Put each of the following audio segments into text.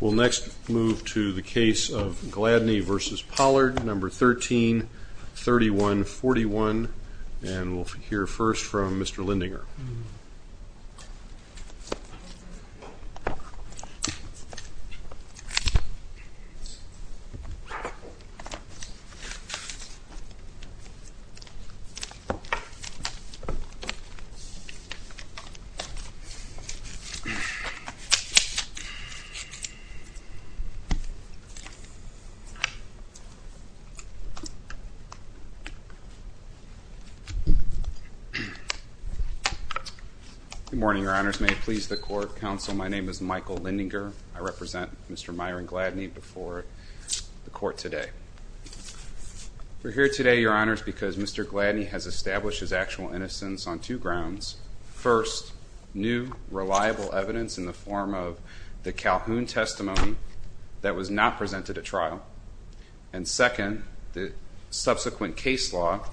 We'll next move to the case of Gladney v. Pollard, No. 13-3141, and we'll hear first from Mr. Lendinger. Good morning, Your Honors. May it please the Court, Counsel, my name is Michael Lendinger. I represent Mr. Myron Gladney before the Court today. We're here today, Your Honors, because Mr. Gladney has established his actual innocence on two grounds. First, new, reliable evidence in the form of the Calhoun testimony that was not presented at trial. And second, the subsequent case law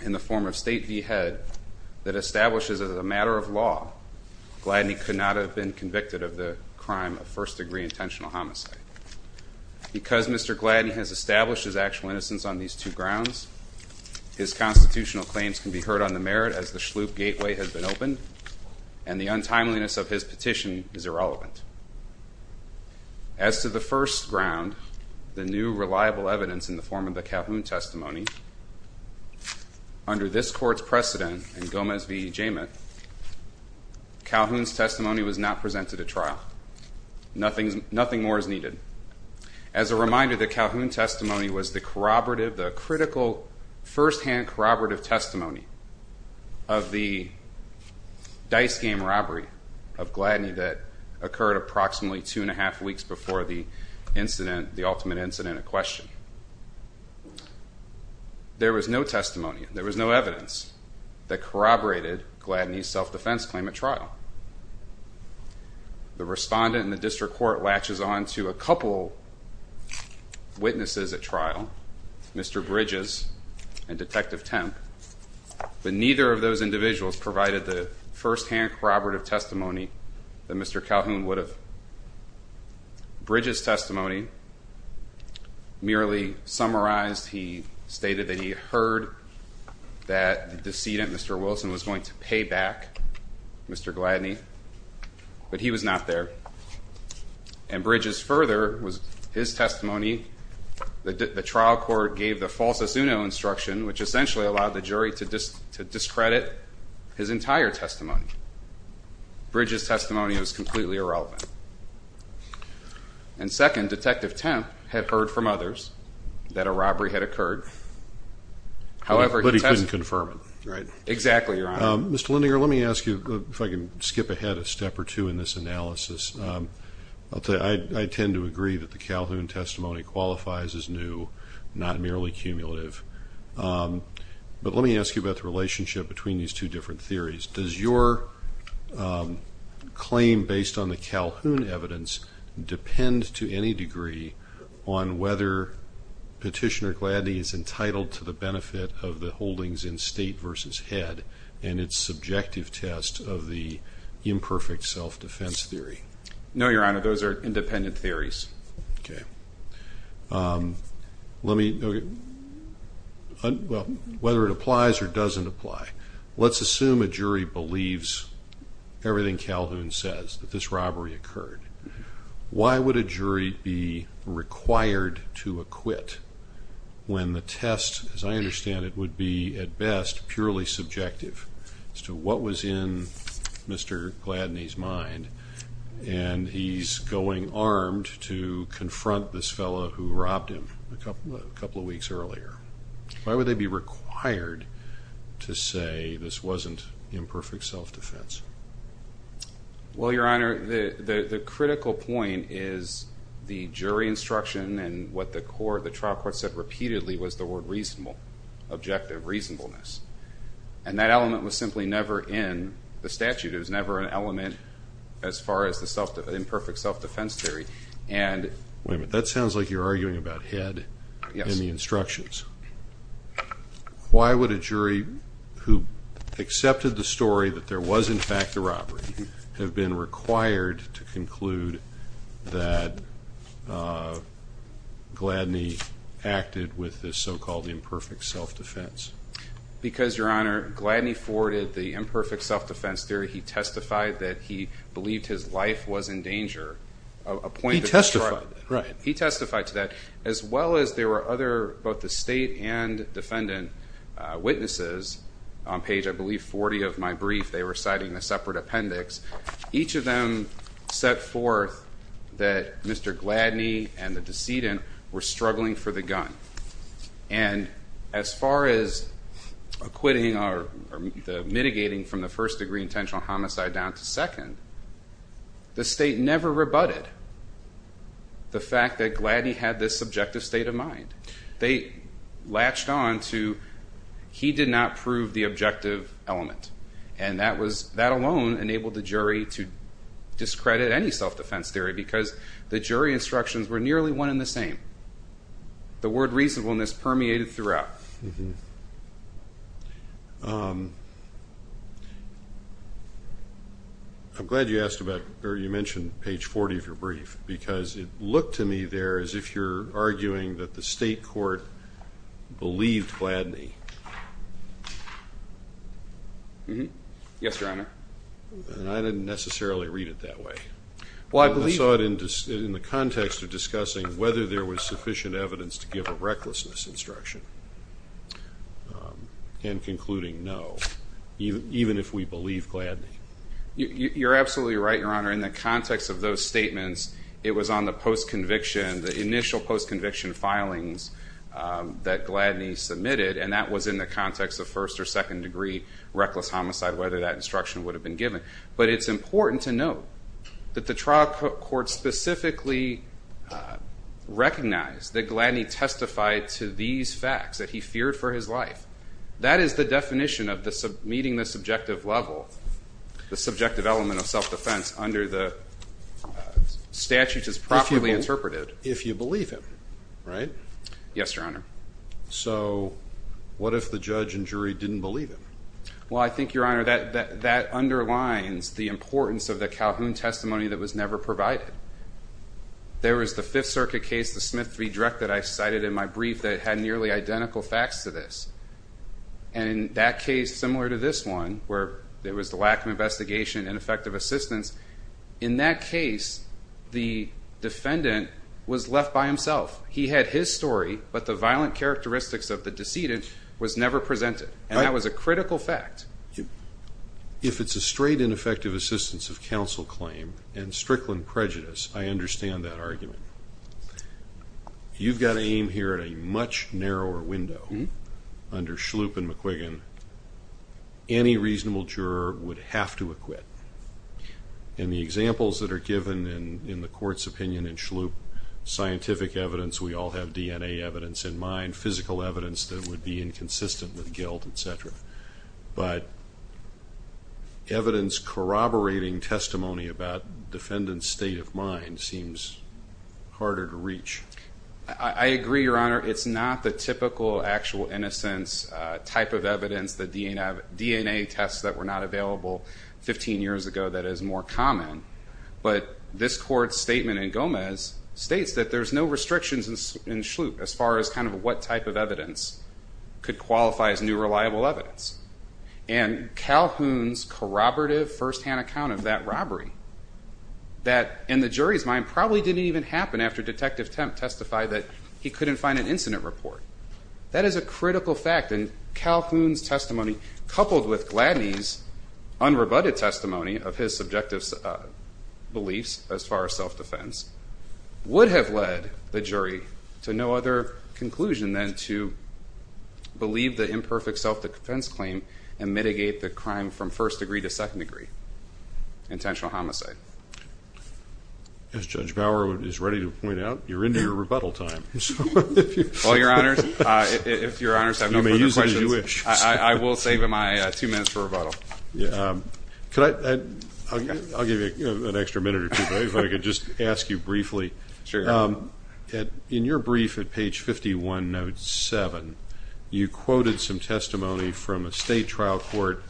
in the form of State v. Head that establishes that as a matter of law, Gladney could not have been convicted of the crime of first-degree intentional homicide. Because Mr. Gladney has established his actual innocence on these two grounds, his constitutional claims can be heard on the merit as the Shloop gateway has been opened, and the untimeliness of his petition is irrelevant. As to the first ground, the new, reliable evidence in the form of the Calhoun testimony, under this Court's precedent in Gomez v. Jamin, Calhoun's testimony was not presented at trial. Nothing more is needed. As a reminder, the Calhoun testimony was the corroborative, the critical, first-hand corroborative testimony of the dice game robbery of Gladney that occurred approximately two and a half weeks before the incident, the ultimate incident at question. There was no testimony, there was no evidence that corroborated Gladney's self-defense claim at trial. The respondent in the district court latches on to a couple witnesses at trial, Mr. Bridges and Detective Temp, but neither of those individuals provided the first-hand corroborative testimony that Mr. Calhoun would have. Bridges' testimony merely summarized, he stated that he heard that the decedent, Mr. Wilson, was going to pay back Mr. Gladney, but he was not there. And Bridges' further was his testimony, the trial court gave the falsus uno instruction, which essentially allowed the jury to discredit his entire testimony. Bridges' testimony was completely irrelevant. And second, Detective Temp had heard from others that a robbery had occurred. However, he couldn't confirm it. Exactly, Your Honor. Mr. Lindinger, let me ask you, if I can skip ahead a step or two in this analysis. I tend to agree that the Calhoun testimony qualifies as new, not merely cumulative. But let me ask you about the relationship between these two different theories. Does your claim based on the Calhoun evidence depend to any degree on whether Petitioner Gladney is entitled to the benefit of the holdings in State v. Head and its subjective test of the imperfect self-defense theory? No, Your Honor, those are independent theories. Okay. Let me, well, whether it applies or doesn't apply. Let's assume a jury believes everything Calhoun says, that this robbery occurred. Why would a jury be required to acquit when the test, as I understand it, would be at best purely subjective as to what was in Mr. Gladney's mind? And he's going armed to confront this fellow who robbed him a couple of weeks earlier. Why would they be required to say this wasn't imperfect self-defense? Well, Your Honor, the critical point is the jury instruction and what the trial court said repeatedly was the word reasonable, objective reasonableness. And that element was simply never in the statute. It was never an element as far as the imperfect self-defense theory. Wait a minute. That sounds like you're arguing about Head and the instructions. Yes. Why would a jury who accepted the story that there was in fact a robbery have been required to conclude that Gladney acted with this so-called imperfect self-defense? Because, Your Honor, Gladney forwarded the imperfect self-defense theory. He testified that he believed his life was in danger. He testified to that. Right. As well as there were other, both the state and defendant witnesses on page, I believe, 40 of my brief. They were citing a separate appendix. Each of them set forth that Mr. Gladney and the decedent were struggling for the gun. And as far as acquitting or mitigating from the first degree intentional homicide down to second, the state never rebutted the fact that Gladney had this objective state of mind. They latched on to he did not prove the objective element. And that alone enabled the jury to discredit any self-defense theory because the jury instructions were nearly one and the same. The word reasonableness permeated throughout. I'm glad you mentioned page 40 of your brief because it looked to me there as if you're arguing that the state court believed Gladney. Yes, Your Honor. I didn't necessarily read it that way. I saw it in the context of discussing whether there was sufficient evidence to give a recklessness instruction and concluding no, even if we believe Gladney. You're absolutely right, Your Honor. In the context of those statements, it was on the post-conviction, the initial post-conviction filings that Gladney submitted, and that was in the context of first or second degree reckless homicide, whether that instruction would have been given. But it's important to note that the trial court specifically recognized that Gladney testified to these facts, that he feared for his life. That is the definition of meeting the subjective level, the subjective element of self-defense under the statute as properly interpreted. If you believe him, right? Yes, Your Honor. So what if the judge and jury didn't believe him? Well, I think, Your Honor, that underlines the importance of the Calhoun testimony that was never provided. There was the Fifth Circuit case, the Smith v. Drek, that I cited in my brief that had nearly identical facts to this. And in that case, similar to this one, where there was the lack of investigation and effective assistance, in that case, the defendant was left by himself. He had his story, but the violent characteristics of the decedent was never presented. And that was a critical fact. If it's a straight and effective assistance of counsel claim and Strickland prejudice, I understand that argument. You've got to aim here at a much narrower window. Under Schlup and McQuiggan, any reasonable juror would have to acquit. And the examples that are given in the court's opinion in Schlup, scientific evidence, we all have DNA evidence in mind, physical evidence that would be inconsistent with guilt, et cetera. But evidence corroborating testimony about the defendant's state of mind seems harder to reach. I agree, Your Honor. It's not the typical actual innocence type of evidence, the DNA tests that were not available 15 years ago that is more common. But this court's statement in Gomez states that there's no restrictions in Schlup as far as kind of what type of evidence could qualify as new reliable evidence. And Calhoun's corroborative firsthand account of that robbery that, in the jury's mind, probably didn't even happen after Detective Temp testified that he couldn't find an incident report. That is a critical fact. And Calhoun's testimony, coupled with Gladney's unrebutted testimony of his subjective beliefs as far as self-defense, would have led the jury to no other conclusion than to believe the imperfect self-defense claim and mitigate the crime from first degree to second degree, intentional homicide. As Judge Bauer is ready to point out, you're into your rebuttal time. Well, Your Honors, if Your Honors have no further questions, I will save my two minutes for rebuttal. I'll give you an extra minute or two, but if I could just ask you briefly, in your brief at page 51, note 7, you quoted some testimony from a state trial court.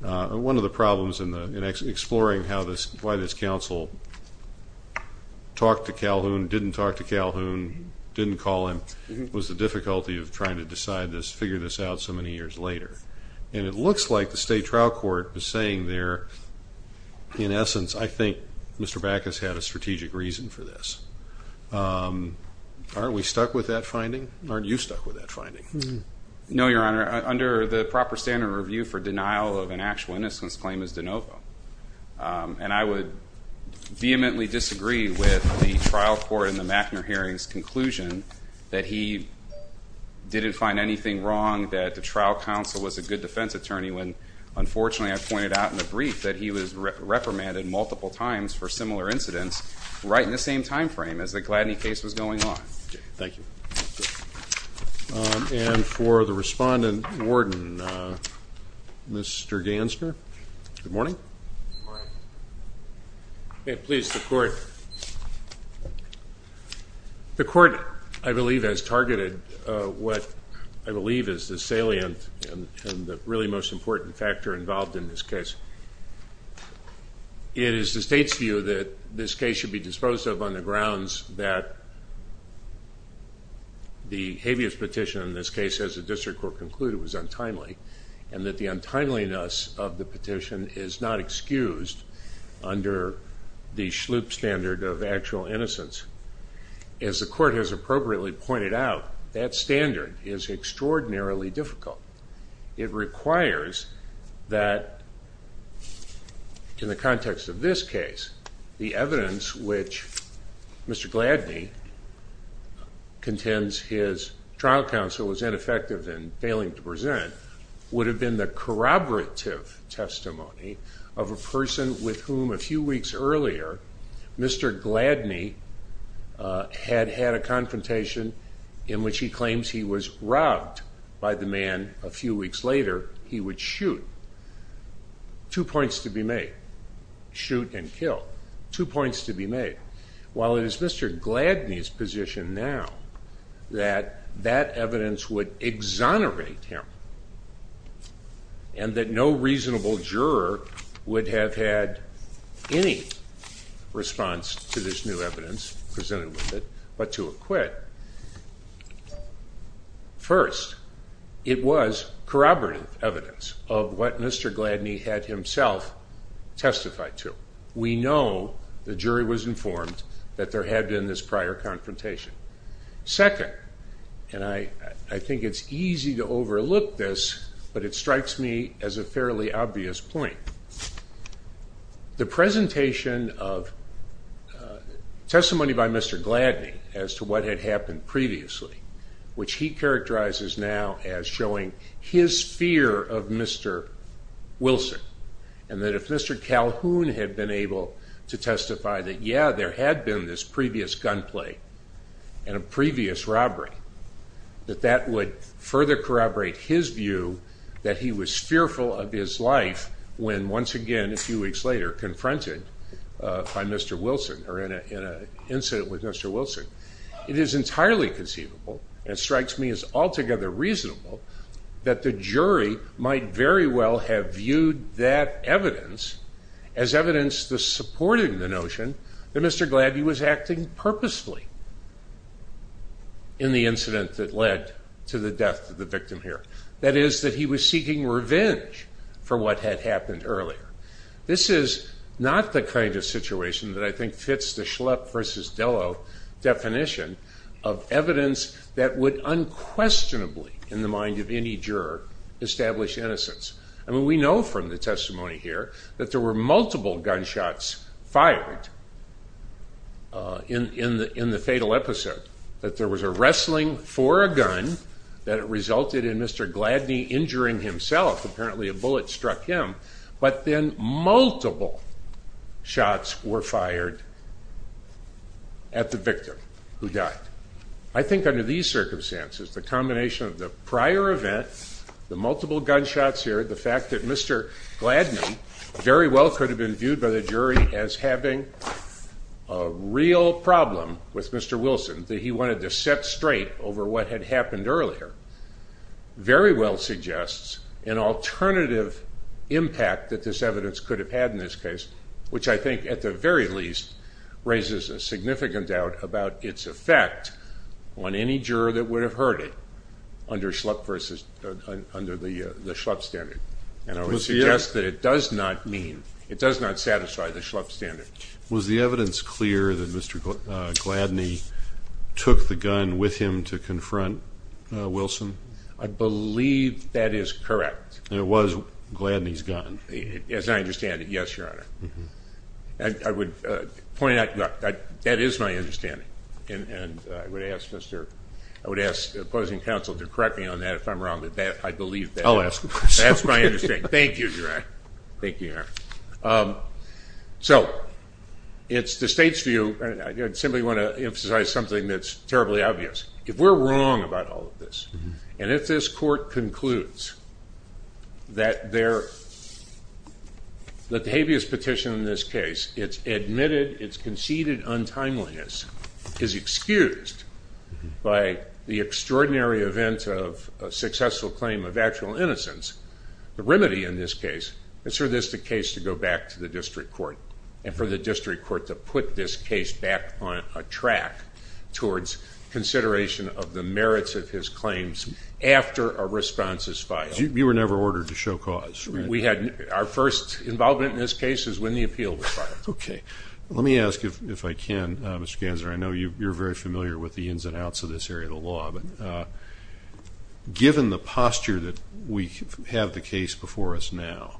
One of the problems in exploring why this counsel talked to Calhoun, didn't talk to Calhoun, didn't call him, was the difficulty of trying to decide this, figure this out so many years later. And it looks like the state trial court was saying there, in essence, I think Mr. Backus had a strategic reason for this. Aren't we stuck with that finding? Aren't you stuck with that finding? No, Your Honor. Under the proper standard review for denial of an actual innocence claim is de novo. And I would vehemently disagree with the trial court in the Mackner hearing's conclusion that he didn't find anything wrong, that the trial counsel was a good defense attorney, when unfortunately I pointed out in the brief that he was reprimanded multiple times for similar incidents right in the same time frame as the Gladney case was going on. Thank you. And for the respondent warden, Mr. Gansner. Good morning. Good morning. May it please the court. The court, I believe, has targeted what I believe is the salient and the really most important factor involved in this case. It is the state's view that this case should be disposed of on the grounds that the habeas petition in this case, as the district court concluded, was untimely. And that the untimeliness of the petition is not excused under the Schlup standard of actual innocence. As the court has appropriately pointed out, that standard is extraordinarily difficult. It requires that in the context of this case, the evidence which Mr. Gladney contends his trial counsel was ineffective in failing to present, would have been the corroborative testimony of a person with whom a few weeks earlier, Mr. Gladney had had a confrontation in which he claims he was robbed by the man a few weeks later. He would shoot. Two points to be made. Shoot and kill. Two points to be made. While it is Mr. Gladney's position now that that evidence would exonerate him and that no reasonable juror would have had any response to this new evidence presented with it, but to acquit. First, it was corroborative evidence of what Mr. Gladney had himself testified to. We know the jury was informed that there had been this prior confrontation. Second, and I think it's easy to overlook this, but it strikes me as a fairly obvious point. The presentation of testimony by Mr. Gladney as to what had happened previously, which he characterizes now as showing his fear of Mr. Wilson, and that if Mr. Calhoun had been able to testify that yeah, there had been this previous gunplay, and a previous robbery, that that would further corroborate his view that he was fearful of his life when once again a few weeks later confronted by Mr. Wilson, or in an incident with Mr. Wilson. It is entirely conceivable, and it strikes me as altogether reasonable, that the jury might very well have viewed that evidence as evidence supporting the notion that Mr. Gladney was acting purposely in the incident that led to the death of the victim here. That is, that he was seeking revenge for what had happened earlier. This is not the kind of situation that I think fits the Schlepp versus Dello definition of evidence that would unquestionably, in the mind of any juror, establish innocence. I mean, we know from the testimony here that there were multiple gunshots fired in the fatal episode, that there was a wrestling for a gun, that it resulted in Mr. Gladney injuring himself, apparently a bullet struck him, but then multiple shots were fired at the victim who died. I think under these circumstances, the combination of the prior event, the multiple gunshots here, the fact that Mr. Gladney very well could have been viewed by the jury as having a real problem with Mr. Wilson, that he wanted to set straight over what had happened earlier, very well suggests an alternative impact that this evidence could have had in this case, which I think at the very least raises a significant doubt about its effect on any juror that would have heard it under the Schlepp standard, and I would suggest that it does not mean, it does not satisfy the Schlepp standard. Was the evidence clear that Mr. Gladney took the gun with him to confront Wilson? I believe that is correct. It was Gladney's gun. As I understand it, yes, Your Honor. I would point out that that is my understanding, and I would ask opposing counsel to correct me on that if I'm wrong, but I believe that. I'll ask, of course. That's my understanding. Thank you, Your Honor. Thank you, Your Honor. So it's the state's view, and I simply want to emphasize something that's terribly obvious. If we're wrong about all of this, and if this court concludes that the habeas petition in this case, its admitted, its conceded untimeliness is excused by the extraordinary event of a successful claim of actual innocence, the remedy in this case is for this case to go back to the district court, and for the district court to put this case back on a track towards consideration of the merits of his claims after a response is filed. You were never ordered to show cause, right? Our first involvement in this case is when the appeal was filed. Okay. Let me ask, if I can, Mr. Ganser, I know you're very familiar with the ins and outs of this area of the law, but given the posture that we have the case before us now,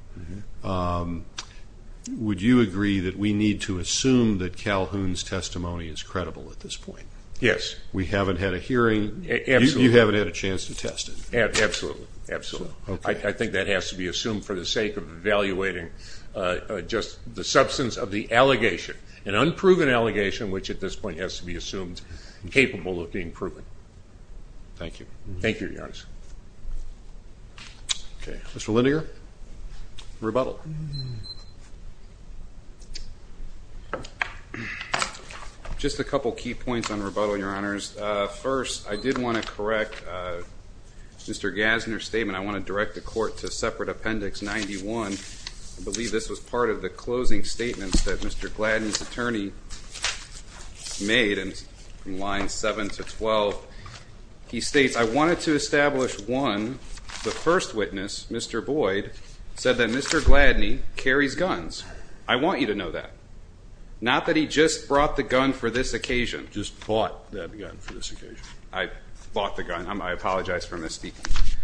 would you agree that we need to assume that Calhoun's testimony is credible at this point? Yes. We haven't had a hearing. Absolutely. You haven't had a chance to test it. Absolutely, absolutely. I think that has to be assumed for the sake of evaluating just the substance of the allegation, an unproven allegation which at this point has to be assumed capable of being proven. Thank you. Thank you, Your Honor. Okay. Mr. Lindager, rebuttal. Just a couple key points on rebuttal, Your Honors. First, I did want to correct Mr. Ganser's statement. I want to direct the court to separate appendix 91. I believe this was part of the closing statements that Mr. Gladden's attorney made in lines 7 to 12. He states, I wanted to establish, one, the first witness, Mr. Boyd, said that Mr. Gladden carries guns. I want you to know that. Not that he just brought the gun for this occasion. Just bought that gun for this occasion. I bought the gun. I apologize for misspeaking.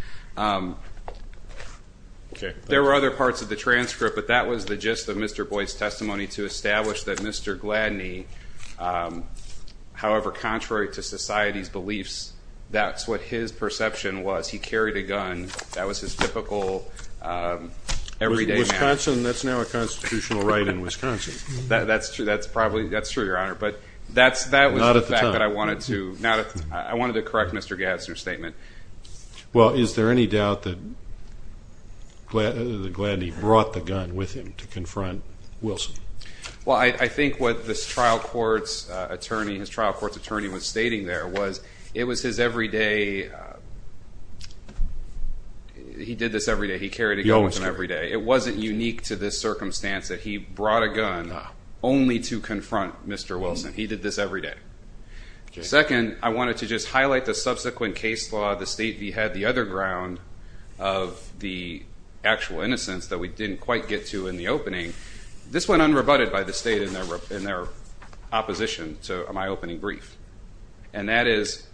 There were other parts of the transcript, but that was the gist of Mr. Boyd's testimony to establish that Mr. Gladden, however contrary to society's beliefs, that's what his perception was. He carried a gun. That was his typical everyday manner. Wisconsin, that's now a constitutional right in Wisconsin. That's true, Your Honor. But that was the fact that I wanted to correct Mr. Ganser's statement. Well, is there any doubt that Gladden brought the gun with him to confront Wilson? Well, I think what this trial court's attorney, his trial court's attorney was stating there, was it was his everyday, he did this every day. He carried a gun with him every day. It wasn't unique to this circumstance that he brought a gun only to confront Mr. Wilson. He did this every day. Second, I wanted to just highlight the subsequent case law, the State v. Head, the other ground of the actual innocence that we didn't quite get to in the opening. This went unrebutted by the State in their opposition to my opening brief, and that is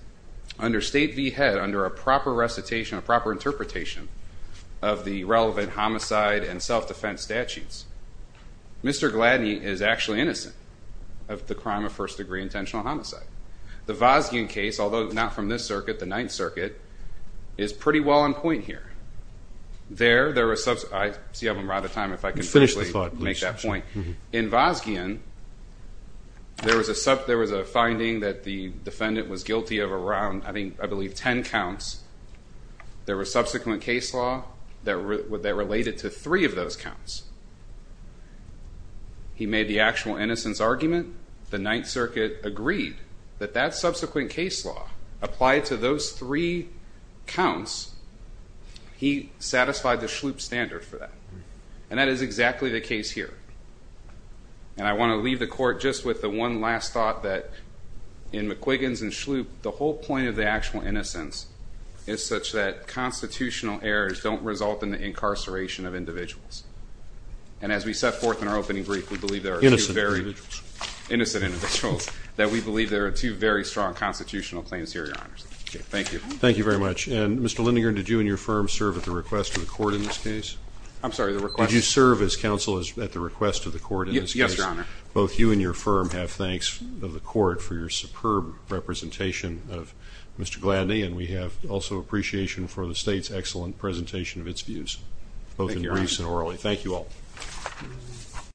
under State v. Head, under a proper recitation, a proper interpretation, of the relevant homicide and self-defense statutes, Mr. Gladden is actually innocent of the crime of first-degree intentional homicide. The Vosgian case, although not from this circuit, the Ninth Circuit, is pretty well on point here. There, there was some, I see I have a lot of time, if I could make that point. In Vosgian, there was a finding that the defendant was guilty of around, I believe, 10 counts. There was subsequent case law that related to three of those counts. He made the actual innocence argument. The Ninth Circuit agreed that that subsequent case law applied to those three counts. He satisfied the Shloop standard for that, and that is exactly the case here. And I want to leave the court just with the one last thought that in McQuiggins and Shloop, the whole point of the actual innocence is such that constitutional errors don't result in the incarceration of individuals. And as we set forth in our opening brief, we believe there are two very… Innocent individuals. Innocent individuals, that we believe there are two very strong constitutional claims here, Your Honor. Thank you. Thank you very much. And, Mr. Lindinger, did you and your firm serve at the request of the court in this case? I'm sorry, the request? Did you serve as counsel at the request of the court in this case? Yes, Your Honor. Both you and your firm have thanks of the court for your superb representation of Mr. Gladney, and we have also appreciation for the state's excellent presentation of its views, both in briefs and orally. Thank you, Your Honor. Thank you all.